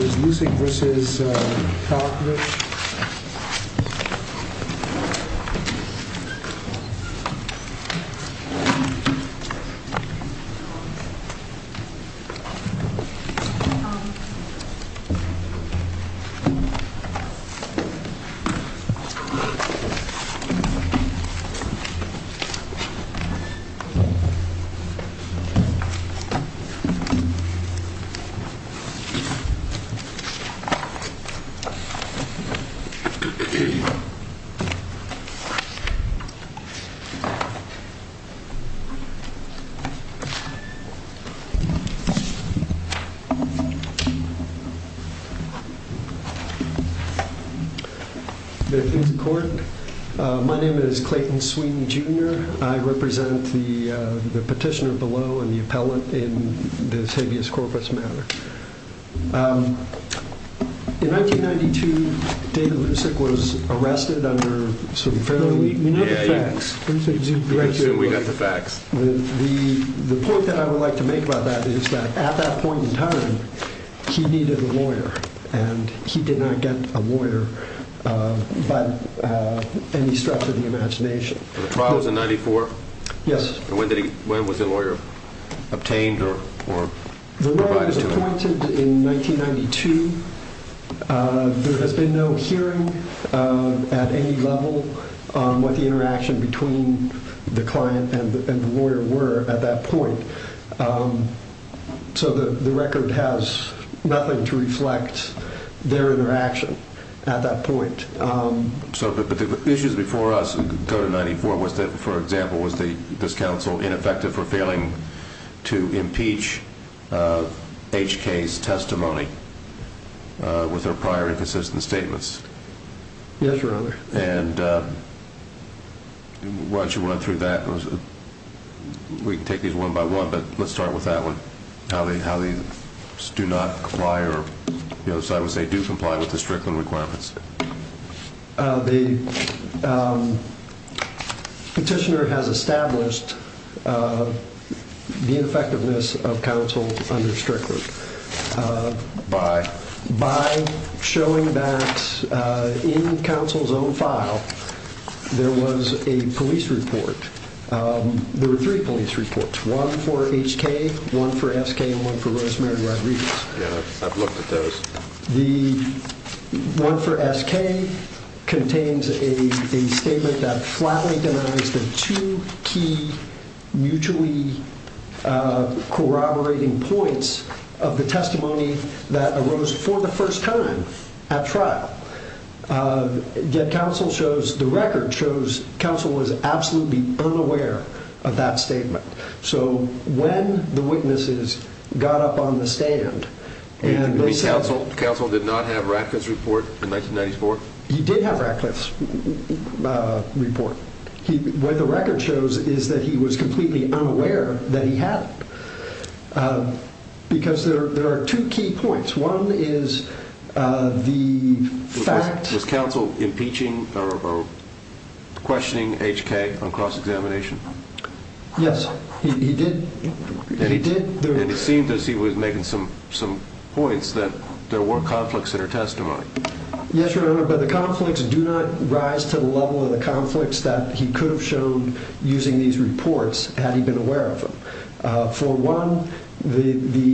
Even nursing? Ooh, yeah, yeah, yeah, yeah.... My name is Clayton Seward and I represent the petitioner below and the appellant in the habeas corpus matter. In 1992, David Lucek was arrested under some fairly, you know the facts, Lucek's execution but the point that I would like to make about that is that at that point in time, he needed a lawyer and he did not get a lawyer by any stretch of the imagination. The trial was in 94? Yes. And when was the lawyer obtained or provided to him? He was appointed in 1992, there has been no hearing at any level on what the interaction between the client and the lawyer were at that point. So the record has nothing to reflect their interaction at that point. So the issues before us go to 94, for example, was this counsel ineffective for failing to comply with the Strickland requirements? Yes, Your Honor. And why don't you run through that, we can take these one by one, but let's start with that one. How they do not comply, or I would say do comply with the Strickland requirements. The petitioner has established the effectiveness of counsel under Strickland by showing that in counsel's own file, there was a police report. There were three police reports, one for HK, one for SK and one for Rosemary Rodriguez. Yeah, I've looked at those. The one for SK contains a statement that flatly denies the two key mutually corroborating points of the testimony that arose for the first time at trial. Yet counsel shows, the record shows, counsel was absolutely unaware of that statement. So when the witnesses got up on the stand- You mean counsel did not have Ratcliffe's report in 1994? He did have Ratcliffe's report. What the record shows is that he was completely unaware that he had it. Because there are two key points. One is the fact- Was counsel impeaching or questioning HK on cross-examination? Yes, he did. And it seemed as he was making some points that there were conflicts in her testimony. Yes, Your Honor, but the conflicts do not rise to the level of the conflicts that he could have shown using these reports had he been aware of them. For one, with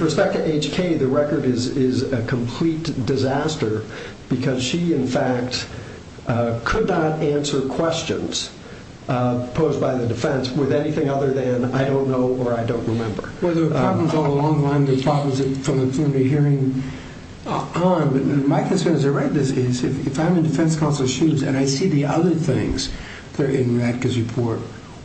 respect to HK, the record is a complete disaster. Because she, in fact, could not answer questions posed by the defense with anything other than I don't know or I don't remember. Well, there were problems all along the line. There were problems from the preliminary hearing on. But my concern, as I write this, is if I'm in defense counsel's shoes and I see the other things that are in Ratcliffe's report,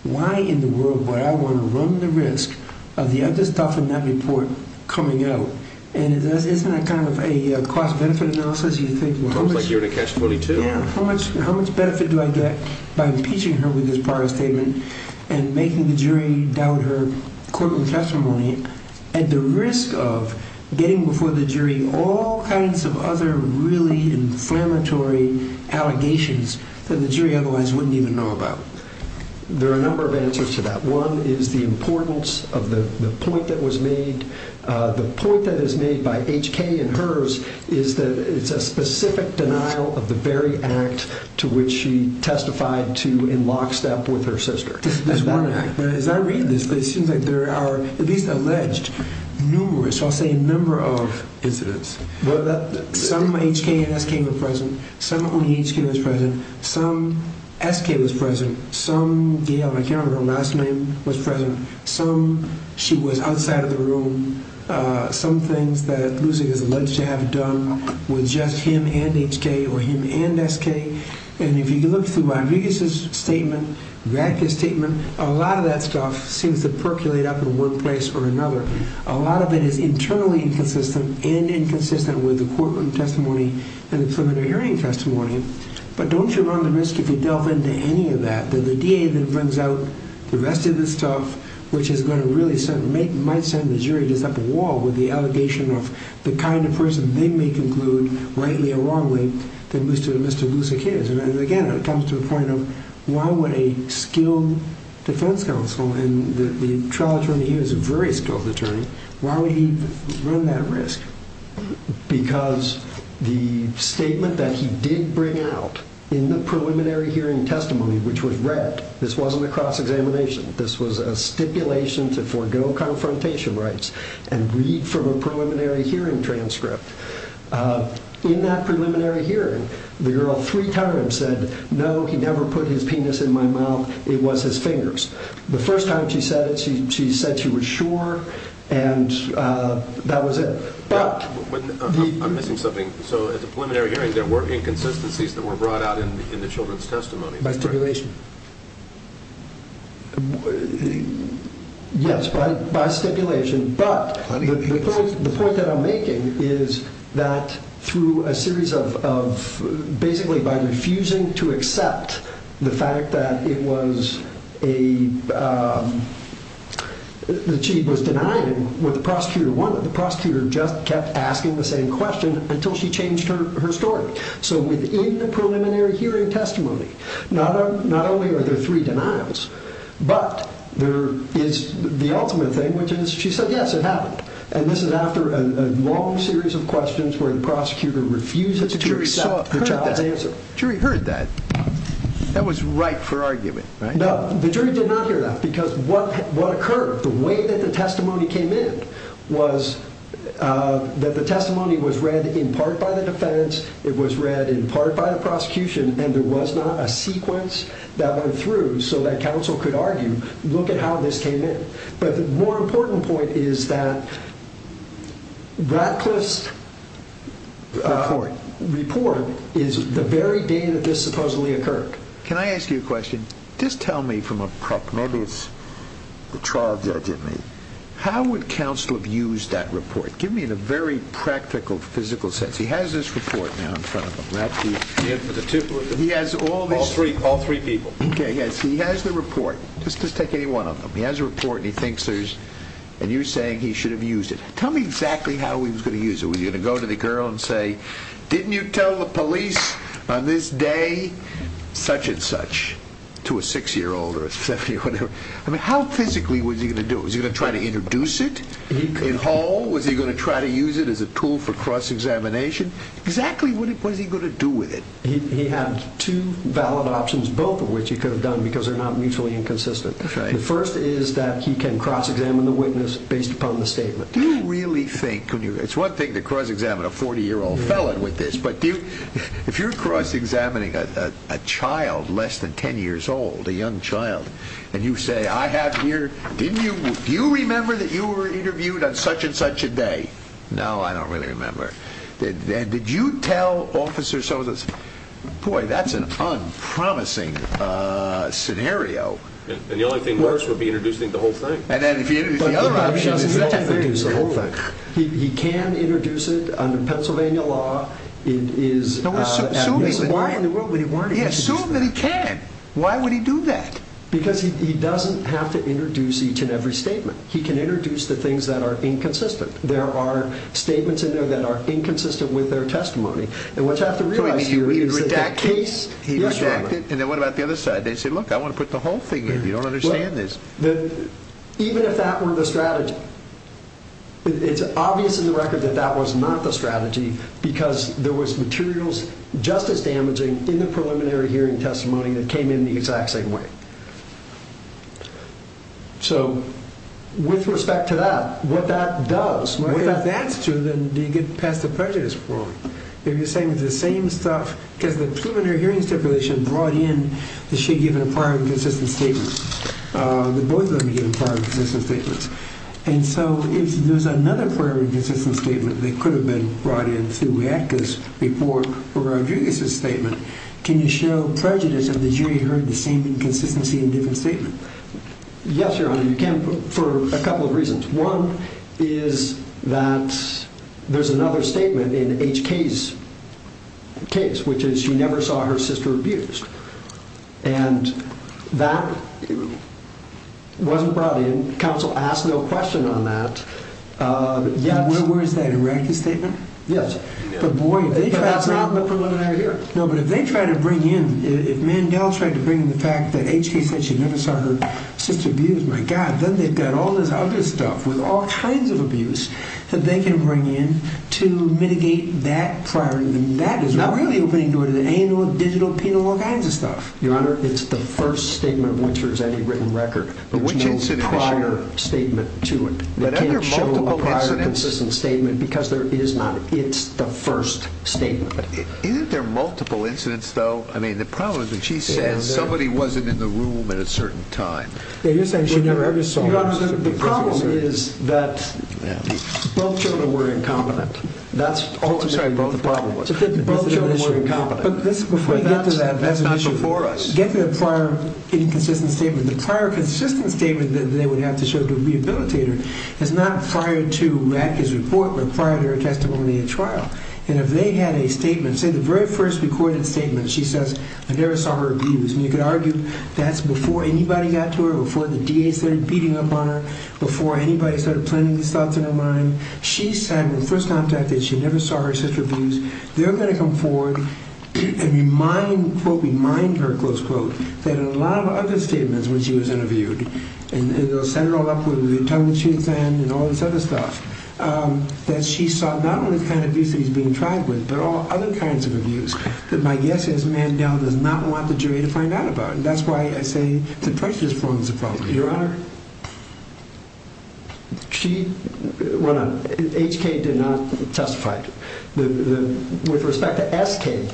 why in the world would I want to run the risk of the other stuff in that report coming out? And isn't that kind of a cost-benefit analysis? It sounds like you're in a catch-22. How much benefit do I get by impeaching her with this prior statement and making the jury doubt her courtroom testimony at the risk of getting before the jury all kinds of other really inflammatory allegations that the jury otherwise wouldn't even know about? There are a number of answers to that. One is the importance of the point that was made. The point that is made by HK and hers is that it's a specific denial of the very act to which she testified to in lockstep with her sister. As I read this, it seems like there are at least alleged numerous, I'll say a number of incidents. Some HK and SK were present. Some only HK was present. Some SK was present. Some, I can't remember her last name, was present. Some, she was outside of the room. Some things that Lucy is alleged to have done were just him and HK or him and SK. And if you look through Rodriguez's statement, Radke's statement, a lot of that stuff seems to percolate up in one place or another. A lot of it is internally inconsistent and inconsistent with the courtroom testimony and the preliminary hearing testimony. But don't you run the risk if you delve into any of that, that the DA that brings out the rest of this stuff, which is going to really might send the jury to set up a wall with the allegation of the kind of person they may conclude, rightly or wrongly, that Mr. Lucek is? Again, it comes to the point of why would a skilled defense counsel, and the trial attorney here is a very skilled attorney, why would he run that risk? Because the statement that he did bring out in the preliminary hearing testimony, which was read, this wasn't a cross-examination, this was a stipulation to forego confrontation rights and read from a preliminary hearing transcript. In that preliminary hearing, the girl three times said, no, he never put his penis in my mouth, it was his fingers. The first time she said it, she said she was sure and that was it. I'm missing something. So at the preliminary hearing there were inconsistencies that were brought out in the children's testimony. By stipulation? Yes, by stipulation. But the point that I'm making is that through a series of, basically by refusing to accept the fact that it was a, that she was denying what the prosecutor wanted, the prosecutor just kept asking the same question until she changed her story. So within the preliminary hearing testimony, not only are there three denials, but there is the ultimate thing, which is she said yes, it happened. And this is after a long series of questions where the prosecutor refuses to accept the child's answer. The jury heard that. That was right for argument, right? No, the jury did not hear that because what occurred, the way that the testimony came in was that the testimony was read in part by the defense, it was read in part by the prosecution, and there was not a sequence that went through so that counsel could argue, look at how this came in. But the more important point is that Ratcliffe's report is the very day that this supposedly occurred. Can I ask you a question? Just tell me from a, maybe it's the trial judge in me, how would counsel have used that report? Give me in a very practical, physical sense. He has this report now in front of him, Ratcliffe. All three people. Okay, yes, he has the report. Just take any one of them. He has the report and he thinks there's, and you're saying he should have used it. Tell me exactly how he was going to use it. Was he going to go to the girl and say, didn't you tell the police on this day such and such, to a six-year-old or a seven-year-old or whatever? How physically was he going to do it? Was he going to try to introduce it in hall? Was he going to try to use it as a tool for cross-examination? Exactly what was he going to do with it? He had two valid options, both of which he could have done because they're not mutually inconsistent. The first is that he can cross-examine the witness based upon the statement. Do you really think, it's one thing to cross-examine a 40-year-old felon with this, but if you're cross-examining a child less than 10 years old, a young child, and you say, I have here, do you remember that you were interviewed on such and such a day? No, I don't really remember. And did you tell officers, boy, that's an unpromising scenario. And the only thing worse would be introducing the whole thing. And then if you introduce the other option, he can't introduce the whole thing. He can introduce it under Pennsylvania law. Assume that he can. Why would he do that? Because he doesn't have to introduce each and every statement. He can introduce the things that are inconsistent. There are statements in there that are inconsistent with their testimony. And what you have to realize here is that the case... He redacted it, and then what about the other side? They said, look, I want to put the whole thing in. You don't understand this. Even if that were the strategy, it's obvious in the record that that was not the strategy because there was materials just as damaging in the preliminary hearing testimony that came in the exact same way. So with respect to that, what that does... Well, if that's true, then you get past the prejudice point. If you're saying it's the same stuff... Because the preliminary hearing stipulation brought in that she'd given a prior inconsistent statement. The boys would have been given prior inconsistent statements. And so if there's another prior inconsistent statement that could have been brought in with respect to Radke's report or Rodriguez's statement, can you show prejudice of the jury heard the same inconsistency in a different statement? Yes, Your Honor, you can for a couple of reasons. One is that there's another statement in HK's case, which is she never saw her sister abused. And that wasn't brought in. Counsel asked no question on that. Where is that, in Radke's statement? Yes. But boy, if they try to bring in... No, but if they try to bring in... If Mandel tried to bring in the fact that HK said she never saw her sister abused, my God, then they've got all this other stuff with all kinds of abuse that they can bring in to mitigate that prior... That is really opening the door to the anal, digital, penal, all kinds of stuff. Your Honor, it's the first statement of which there's any written record. There's no prior statement to it. They can't show a prior consistent statement because there is not. It's the first statement. Isn't there multiple incidents, though? I mean, the problem is that she says somebody wasn't in the room at a certain time. Yeah, you're saying she never saw her sister abused. Your Honor, the problem is that both children were incompetent. That's ultimately... Oh, I'm sorry, both the problem was... Both children were incompetent. But that's not before us. Get to the prior inconsistent statement. The prior consistent statement that they would have to show to a rehabilitator is not prior to Rackett's report, but prior to her testimony at trial. And if they had a statement, say the very first recorded statement, she says, I never saw her abused. And you could argue that's before anybody got to her, before the DA started beating up on her, before anybody started planting these thoughts in her mind. She's having the first contact that she never saw her sister abused. They're going to come forward and quote, remind her, close quote, that in a lot of other statements when she was interviewed, and they'll set it all up with the attorney she was in and all this other stuff, that she saw not only the kind of abuse that he's being tried with, but all other kinds of abuse that my guess is Mandel does not want the jury to find out about. And that's why I say the pressure just forms the problem. Your Honor... She... Well, no, HK did not testify. With respect to SK,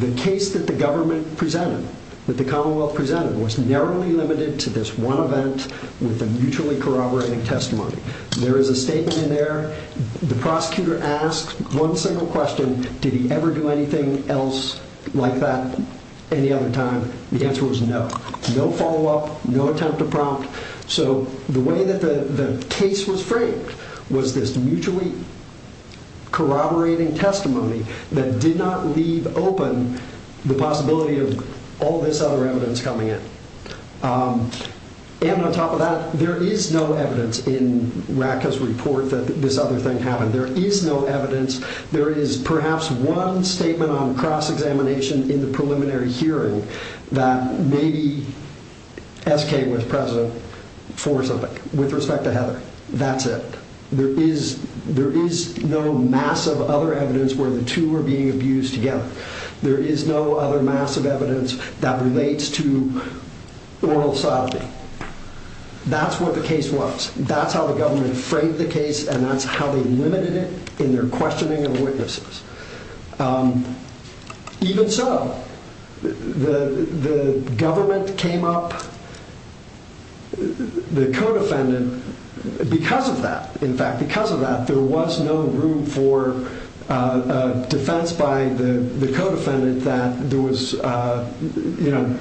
the case that the government presented, that the Commonwealth presented, was narrowly limited to this one event with a mutually corroborating testimony. There is a statement in there. The prosecutor asked one single question. Did he ever do anything else like that any other time? The answer was no. No follow-up, no attempt to prompt. So the way that the case was framed was this mutually corroborating testimony that did not leave open the possibility of all this other evidence coming in. And on top of that, there is no evidence in Racka's report that this other thing happened. There is no evidence. There is perhaps one statement on cross-examination in the preliminary hearing that maybe SK was present for something. With respect to Heather, that's it. There is no massive other evidence where the two are being abused together. There is no other massive evidence that relates to oral sodomy. That's what the case was. That's how the government framed the case, and that's how they limited it in their questioning of witnesses. Even so, the government came up, the co-defendant, because of that. In fact, because of that, there was no room for defense by the co-defendant that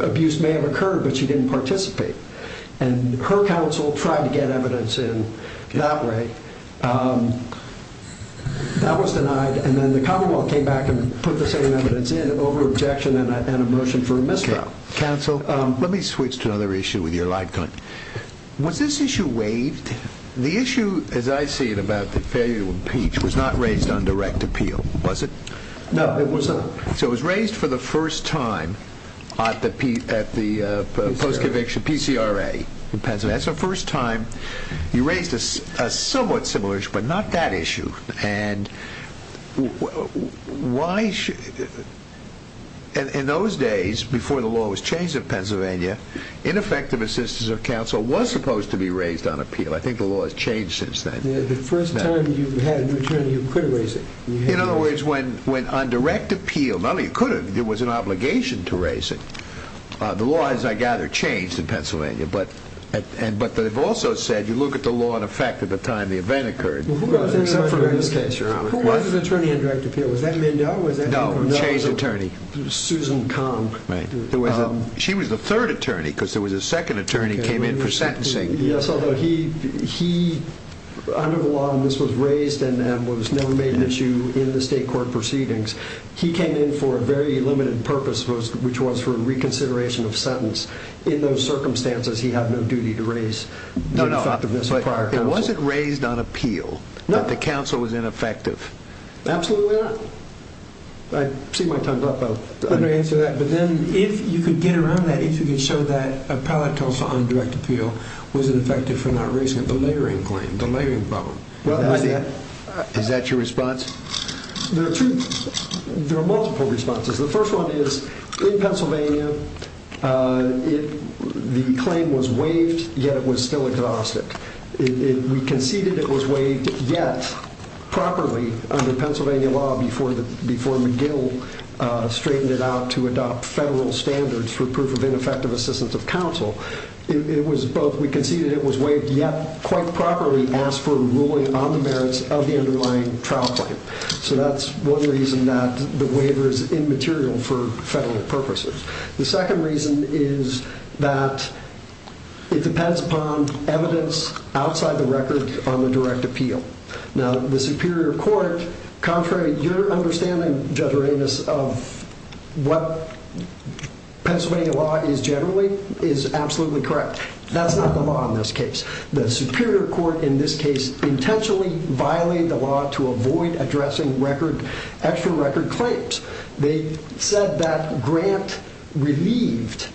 abuse may have occurred, but she didn't participate. And her counsel tried to get evidence in that way. That was denied, and then the Commonwealth came back and put the same evidence in over objection and a motion for a mistrial. Counsel, let me switch to another issue with your light gun. Was this issue waived? The issue, as I see it, about the failure to impeach was not raised on direct appeal, was it? No, it was not. So it was raised for the first time at the post-conviction PCRA in Pennsylvania. That's the first time you raised a somewhat similar issue, but not that issue. In those days, before the law was changed in Pennsylvania, ineffective assistance of counsel was supposed to be raised on appeal. I think the law has changed since then. The first time you had a new attorney, you could have raised it. In other words, when on direct appeal, not only you could have, there was an obligation to raise it. The law, as I gather, changed in Pennsylvania, but they've also said you look at the law in effect at the time the event occurred. Except for in this case, Your Honor. Who was his attorney on direct appeal? Was that Mendoza? No, a changed attorney. Susan Kahn. She was the third attorney, because there was a second attorney came in for sentencing. Yes, although he, under the law, and this was raised and was never made an issue in the state court proceedings, he came in for a very limited purpose, which was for reconsideration of sentence. In those circumstances, he had no duty to raise the effectiveness of prior counsel. It wasn't raised on appeal. No. That the counsel was ineffective. Absolutely not. I see my time's up. I'm going to answer that. But then, if you could get around that, if you could show that appellate counsel on direct appeal was ineffective for not raising it. The layering claim. The layering problem. Is that your response? There are two. There are multiple responses. The first one is, in Pennsylvania, the claim was waived, yet it was still exhausted. We conceded it was waived, yet, properly, under Pennsylvania law before McGill straightened it out to adopt federal standards for proof of ineffective assistance of counsel. It was both. We conceded it was waived, yet, quite properly, as for ruling on the merits of the underlying trial claim. So that's one reason that the waiver is immaterial for federal purposes. The second reason is that it depends upon evidence outside the record on the direct appeal. Now, the Superior Court, contrary to your understanding, Judge Ramos, of what Pennsylvania law is generally, is absolutely correct. That's not the law in this case. The Superior Court, in this case, intentionally violated the law to avoid addressing actual record claims. They said that Grant relieved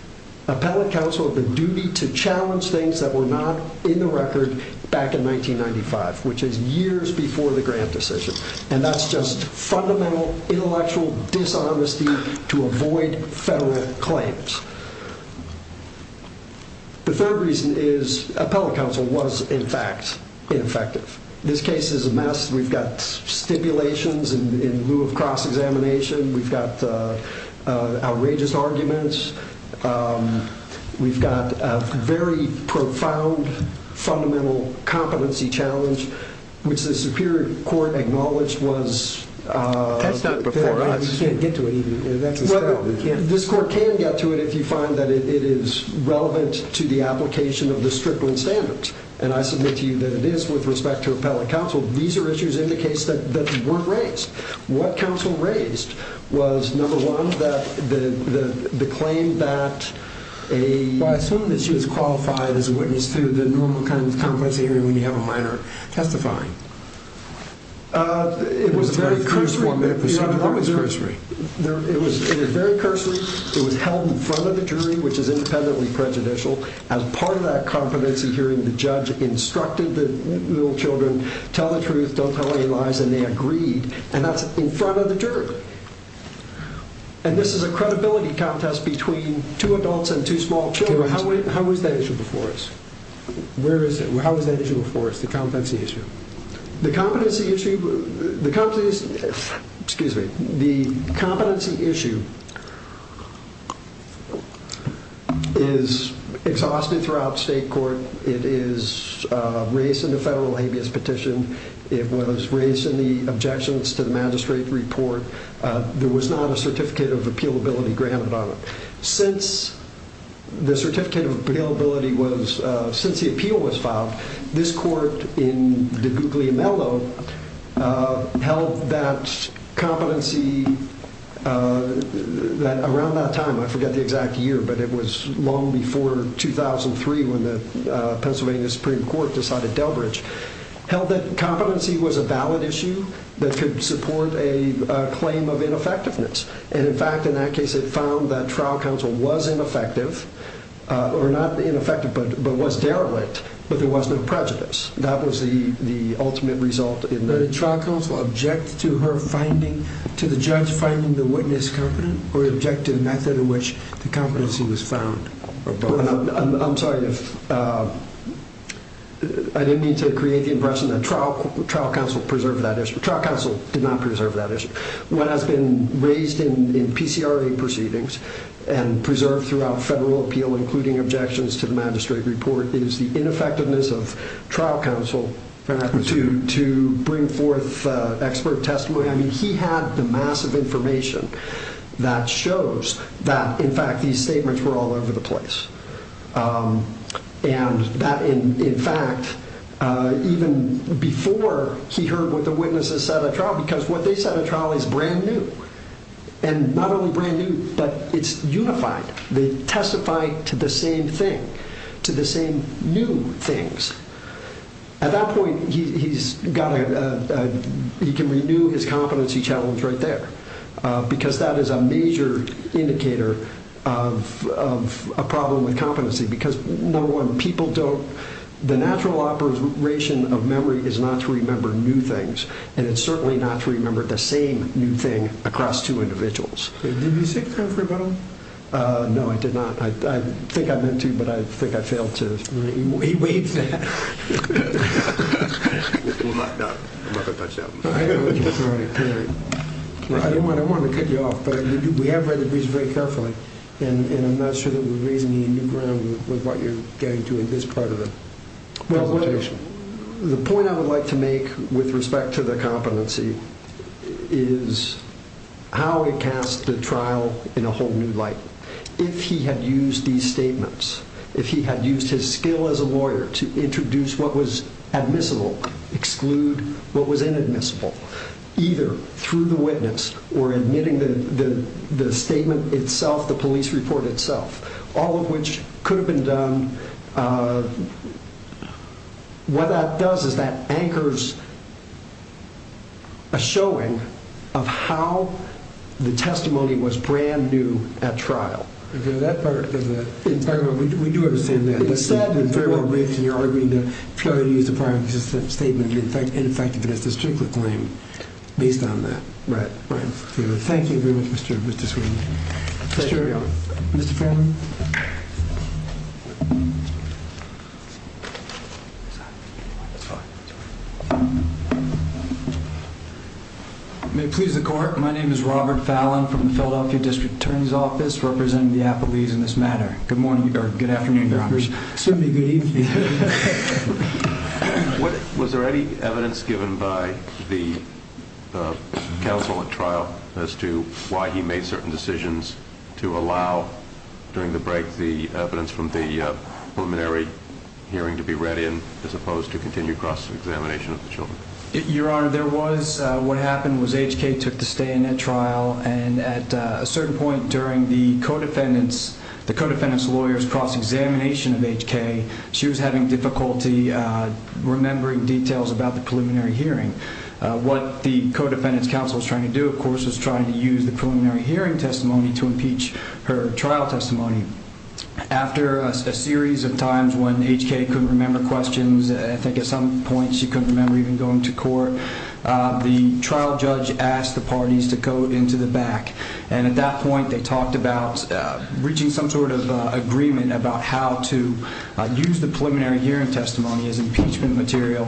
appellate counsel of the duty to challenge things that were not in the record back in 1995, which is years before the Grant decision. And that's just fundamental intellectual dishonesty to avoid federal claims. The third reason is appellate counsel was, in fact, ineffective. This case is a mess. We've got stipulations in lieu of cross-examination. We've got outrageous arguments. We've got a very profound fundamental competency challenge, which the Superior Court acknowledged was... That's not before us. We can't get to it. This court can get to it if you find that it is relevant to the application of the stripling standards. And I submit to you that it is with respect to appellate counsel. These are issues in the case that weren't raised. What counsel raised was, number one, the claim that a... Well, I assume that she was qualified as a witness to the normal kind of competency hearing when you have a minor testifying. It was very cursory. It was very cursory. It was held in front of the jury, which is independently prejudicial. As part of that competency hearing, the judge instructed the little children, tell the truth, don't tell any lies, and they agreed. And that's in front of the jury. And this is a credibility contest between two adults and two small children. How was that issue before us? Where is it? How was that issue before us, the competency issue? The competency issue... Excuse me. The competency issue is exhausted throughout state court. It is raised in the federal habeas petition. It was raised in the objections to the magistrate report. There was not a certificate of appealability granted on it. Since the certificate of appealability was... Since the appeal was filed, this court in DeGuglielmo held that competency... Around that time, I forget the exact year, but it was long before 2003 when the Pennsylvania Supreme Court decided Delbridge, held that competency was a valid issue that could support a claim of ineffectiveness. And in fact, in that case, it found that trial counsel was ineffective, or not ineffective, but was derelict, but there was no prejudice. That was the ultimate result. Did the trial counsel object to her finding, to the judge finding the witness competent, or object to the method in which the competency was found? I'm sorry. I didn't mean to create the impression that trial counsel preserved that issue. Trial counsel did not preserve that issue. What has been raised in PCRA proceedings and preserved throughout federal appeal, including objections to the magistrate report, is the ineffectiveness of trial counsel to bring forth expert testimony. I mean, he had the massive information that shows that, in fact, these statements were all over the place. And that, in fact, even before he heard what the witnesses said at trial, because what they said at trial is brand new, and not only brand new, but it's unified. They testify to the same thing, to the same new things. At that point, he's got a... He can renew his competency challenge right there, because that is a major indicator of a problem with competency, because, number one, people don't... The natural operation of memory is not to remember new things, and it's certainly not to remember the same new thing across two individuals. Did you seek a time for rebuttal? No, I did not. I think I meant to, but I think I failed to. He waived that. Well, I'm not going to touch that one. All right, period. I didn't want to cut you off, but we have read the reason very carefully, and I'm not sure that we're raising any new ground with what you're getting to in this part of the presentation. Well, the point I would like to make with respect to the competency is how it casts the trial in a whole new light. If he had used these statements, if he had used his skill as a lawyer to introduce what was admissible, exclude what was inadmissible, either through the witness or admitting the statement itself, the police report itself, all of which could have been done, what that does is that anchors a showing of how the testimony was brand-new at trial. Okay, that part of the... We do understand that. You're arguing that if you're going to use a prior statement, in effect, it is a stricter claim based on that. Right, right. Thank you very much, Mr. Sweeney. Pleasure. Mr. Fairman? That's fine, that's fine. May it please the court, my name is Robert Fallon from the Philadelphia District Attorney's Office representing the appellees in this matter. Good morning, or good afternoon, your honors. Certainly good evening. Was there any evidence given by the counsel at trial as to why he made certain decisions to allow, during the break, the evidence from the preliminary hearing to be read in as opposed to continued cross-examination of the children? Your honor, there was. What happened was H.K. took the stay-in at trial and at a certain point during the co-defendant's, the co-defendant's lawyer's cross-examination of H.K., she was having difficulty remembering details about the preliminary hearing. What the co-defendant's counsel was trying to do, of course, was trying to use the preliminary hearing testimony to impeach her trial testimony. After a series of times when H.K. couldn't remember questions, I think at some point she couldn't remember even going to court, the trial judge asked the parties to go into the back and at that point they talked about reaching some sort of agreement about how to use the preliminary hearing testimony as impeachment material,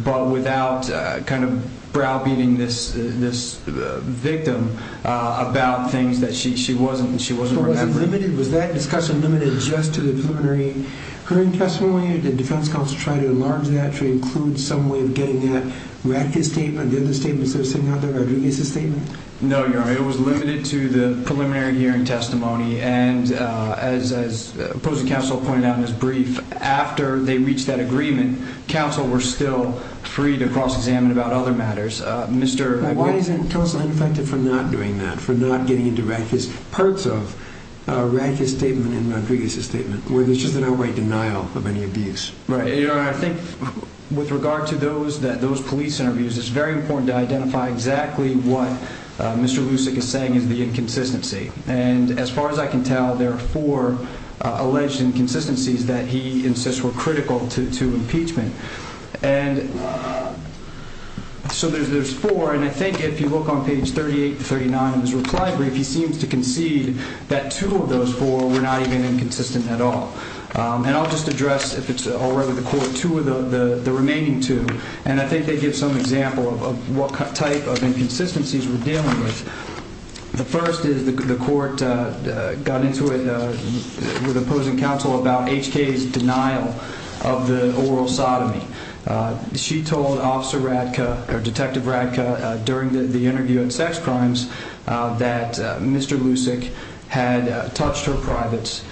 but without kind of browbeating this victim about things that she wasn't remembering. Was that discussion limited just to the preliminary hearing testimony or did the defense counsel try to enlarge that to include some way of getting at Rackett's statement, the other statements that were sitting out there, Rodriguez's statement? No, your honor, it was limited to the preliminary hearing testimony and as opposing counsel pointed out in his brief, after they reached that agreement, counsel were still free to cross-examine about other matters. Why isn't counsel ineffective for not doing that, for not getting into parts of Rackett's statement and Rodriguez's statement, where there's just in a way denial of any abuse? Right, your honor, I think with regard to those police interviews, it's very important to identify exactly what Mr. Lucic is saying is the inconsistency, and as far as I can tell there are four alleged inconsistencies that he insists were critical to impeachment. And so there's four, and I think if you look on page 38-39 in his reply brief, he seems to concede that two of those four were not even inconsistent at all. And I'll just address, if it's all right with the court, two of the remaining two, and I think they give some example of what type of inconsistencies we're dealing with. The first is the court got into it with opposing counsel about HK's denial of the oral sodomy. She told Detective Radka during the interview on sex crimes that Mr. Lucic had touched her privates,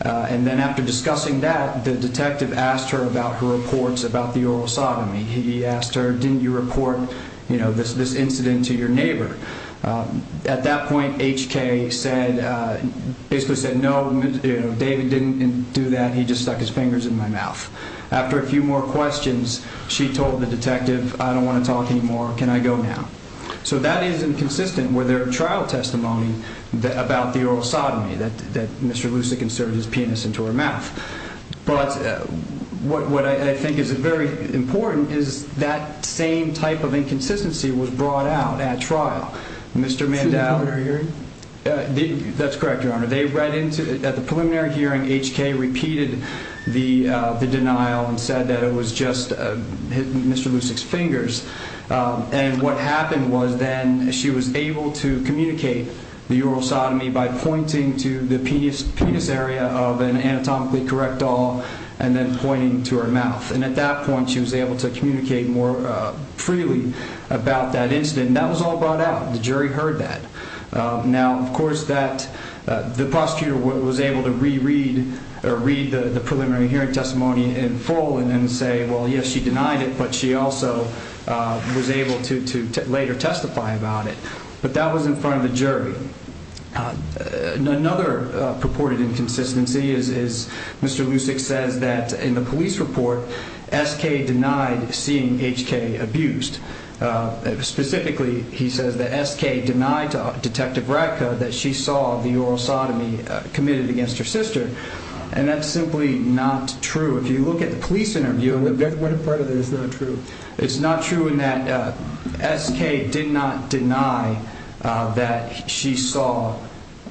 and then after discussing that, the detective asked her about her reports about the oral sodomy. He asked her, didn't you report this incident to your neighbor? At that point, HK basically said no, David didn't do that, he just stuck his fingers in my mouth. After a few more questions, she told the detective, I don't want to talk anymore, can I go now? So that is inconsistent with her trial testimony about the oral sodomy that Mr. Lucic inserted his penis into her mouth. But what I think is very important is that same type of inconsistency was brought out at trial. At the preliminary hearing? That's correct, Your Honor. At the preliminary hearing, HK repeated the denial and said that it was just Mr. Lucic's fingers. And what happened was then she was able to communicate the oral sodomy by pointing to the penis area of an anatomically correct doll and then pointing to her mouth. And at that point, she was able to communicate more freely about that incident. And that was all brought out. The jury heard that. Now, of course, the prosecutor was able to re-read the preliminary hearing testimony in full and then say, well, yes, she denied it, but she also was able to later testify about it. But that was in front of the jury. Another purported inconsistency is Mr. Lucic says that in the police report, SK denied seeing HK abused. Specifically, he says that SK denied to Detective Ratka that she saw the oral sodomy committed against her sister. And that's simply not true. If you look at the police interview, what part of that is not true? It's not true in that SK did not deny that she saw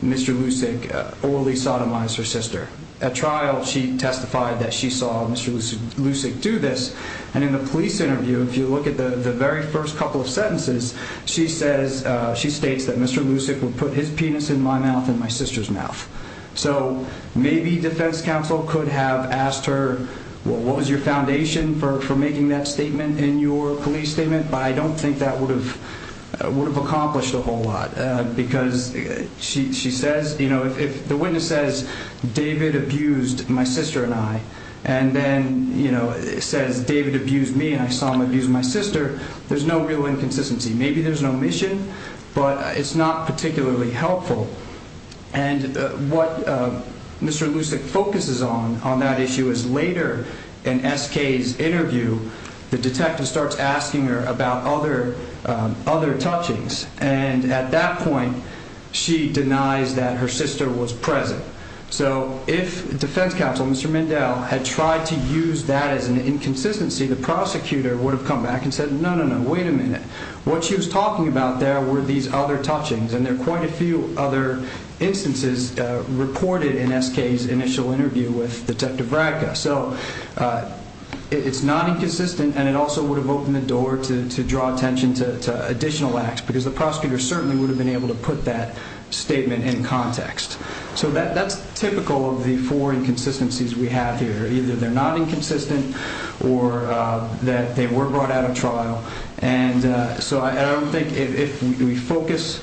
Mr. Lucic orally sodomize her sister. At trial, she testified that she saw Mr. Lucic do this. And in the police interview, if you look at the very first couple of sentences, she states that Mr. Lucic would put his penis in my mouth and my sister's mouth. So maybe defense counsel could have asked her, well, what was your foundation for making that statement in your police statement? But I don't think that would have accomplished a whole lot. Because she says, you know, if the witness says David abused my sister and I, and then, you know, says David abused me and I saw him abuse my sister, there's no real inconsistency. Maybe there's an omission, but it's not particularly helpful. And what Mr. Lucic focuses on on that issue is later in SK's interview, the detective starts asking her about other touchings. And at that point, she denies that her sister was present. So if defense counsel, Mr. Mindell, had tried to use that as an inconsistency, the prosecutor would have come back and said, no, no, no, wait a minute. What she was talking about there were these other touchings, and there are quite a few other instances reported in SK's initial interview with Detective Radka. So it's not inconsistent, and it also would have opened the door to draw attention to additional acts, because the prosecutor certainly would have been able to put that statement in context. So that's typical of the four inconsistencies we have here. Either they're not inconsistent or that they were brought out of trial. And so I don't think if we focus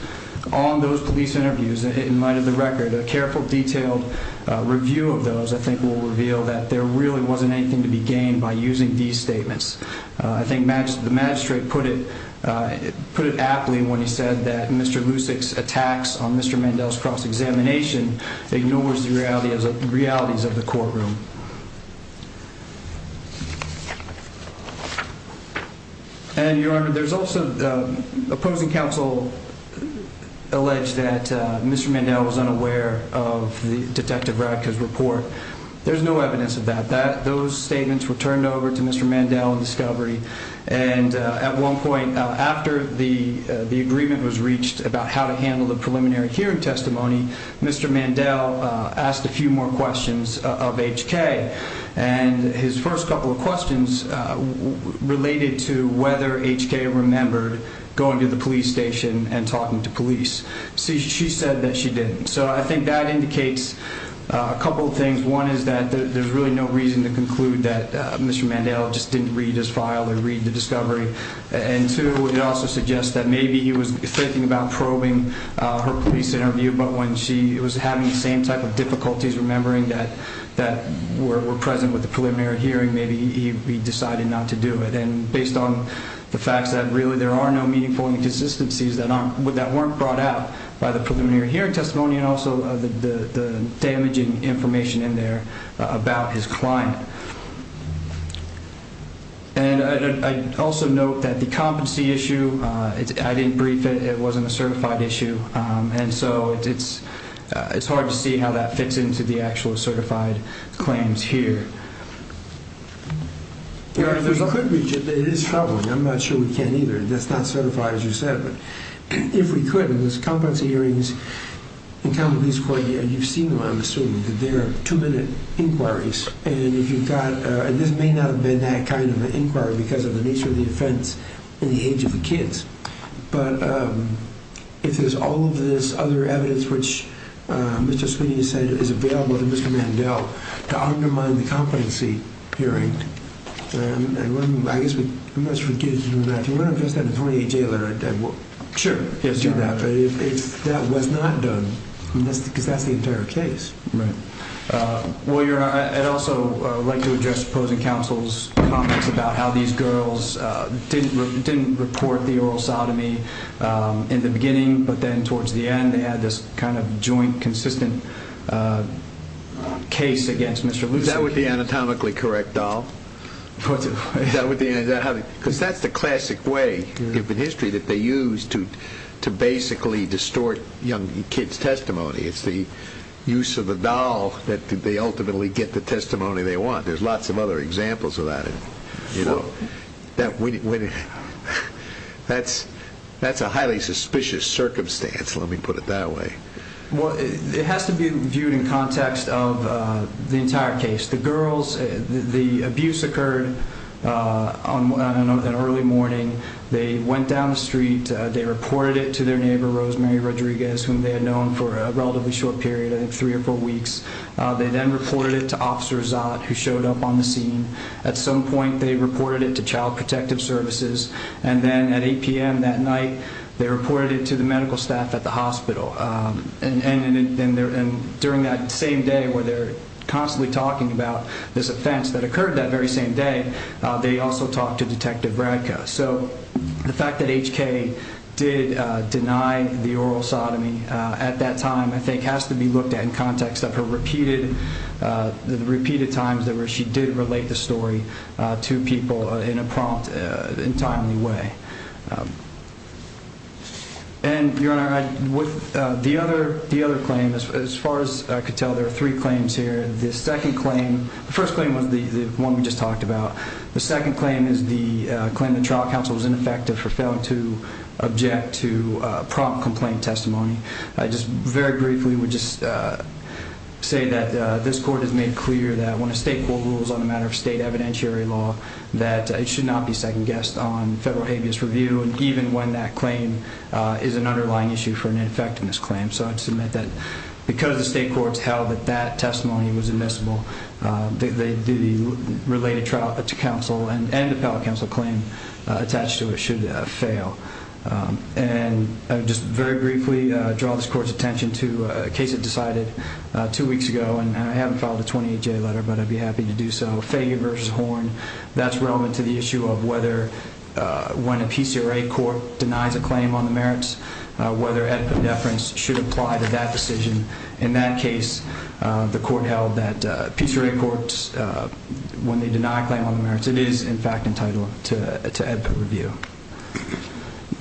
on those police interviews in light of the record, a careful, detailed review of those, I think, will reveal that there really wasn't anything to be gained by using these statements. I think the magistrate put it aptly when he said that Mr. Lusick's attacks on Mr. Mindell's cross-examination ignores the realities of the courtroom. And, Your Honor, there's also opposing counsel allege that Mr. Mindell was unaware of Detective Radka's report. There's no evidence of that. Those statements were turned over to Mr. Mindell in discovery. And at one point, after the agreement was reached about how to handle the preliminary hearing testimony, Mr. Mindell asked a few more questions of HK. And his first couple of questions related to whether HK remembered going to the police station and talking to police. She said that she didn't. So I think that indicates a couple of things. One is that there's really no reason to conclude that Mr. Mindell just didn't read his file or read the discovery. And two, it also suggests that maybe he was thinking about probing her police interview, but when she was having the same type of difficulties remembering that were present with the preliminary hearing, maybe he decided not to do it. And based on the fact that really there are no meaningful inconsistencies that weren't brought out by the preliminary hearing testimony and also the damaging information in there about his client. And I also note that the competency issue, I didn't brief it. It wasn't a certified issue. And so it's hard to see how that fits into the actual certified claims here. It is troubling. I'm not sure we can either. That's not certified, as you said. But if we could, and there's competency hearings in common with this court, and you've seen them, I'm assuming, that they're two-minute inquiries. And this may not have been that kind of an inquiry because of the nature of the offense in the age of the kids. But if there's all of this other evidence which Mr. Sweeney said is available to Mr. Mindell to undermine the competency hearing, I guess we must forgive him that. You want to address that in the 28-J letter? Sure. Do that. But if that was not done, because that's the entire case. Right. Well, I'd also like to address opposing counsel's comments about how these girls didn't report the oral sodomy in the beginning, but then towards the end they had this kind of joint, consistent case against Mr. Lucey. Is that with the anatomically correct doll? Because that's the classic way in history that they use to basically distort young kids' testimony. It's the use of the doll that they ultimately get the testimony they want. There's lots of other examples of that. That's a highly suspicious circumstance, let me put it that way. It has to be viewed in context of the entire case. The girls, the abuse occurred on an early morning. They went down the street. They reported it to their neighbor, Rosemary Rodriguez, whom they had known for a relatively short period, I think three or four weeks. They then reported it to Officer Zott, who showed up on the scene. At some point they reported it to Child Protective Services. Then at 8 p.m. that night they reported it to the medical staff at the hospital. During that same day where they're constantly talking about this offense that occurred that very same day, they also talked to Detective Radka. The fact that HK did deny the oral sodomy at that time, I think, has to be looked at in context of her repeated times where she did relate the story to people in a prompt, in a timely way. Your Honor, with the other claim, as far as I could tell, there are three claims here. The first claim was the one we just talked about. The second claim is the claim that trial counsel was ineffective for failing to object to prompt complaint testimony. I just very briefly would just say that this Court has made clear that when a state court rules on a matter of state evidentiary law, that it should not be second-guessed on federal habeas review, even when that claim is an underlying issue for an effectiveness claim. So I'd submit that because the state courts held that that testimony was admissible, the related trial to counsel and appellate counsel claim attached to it should fail. And I would just very briefly draw this Court's attention to a case it decided two weeks ago, and I haven't filed a 28-J letter, but I'd be happy to do so, Fager v. Horn. That's relevant to the issue of whether, when a PCRA court denies a claim on the merits, whether EDPA deference should apply to that decision. In that case, the court held that PCRA courts, when they deny a claim on the merits, it is, in fact, entitled to EDPA review.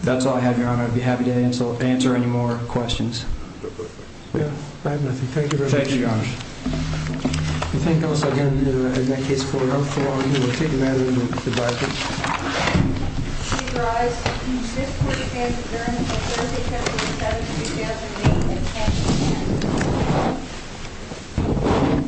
That's all I have, Your Honor. I'd be happy to answer any more questions. I have nothing. Thank you very much, Your Honor. Thank you, Your Honor. I thank, also, again, the case court. Thank you, Your Honor. Thank you.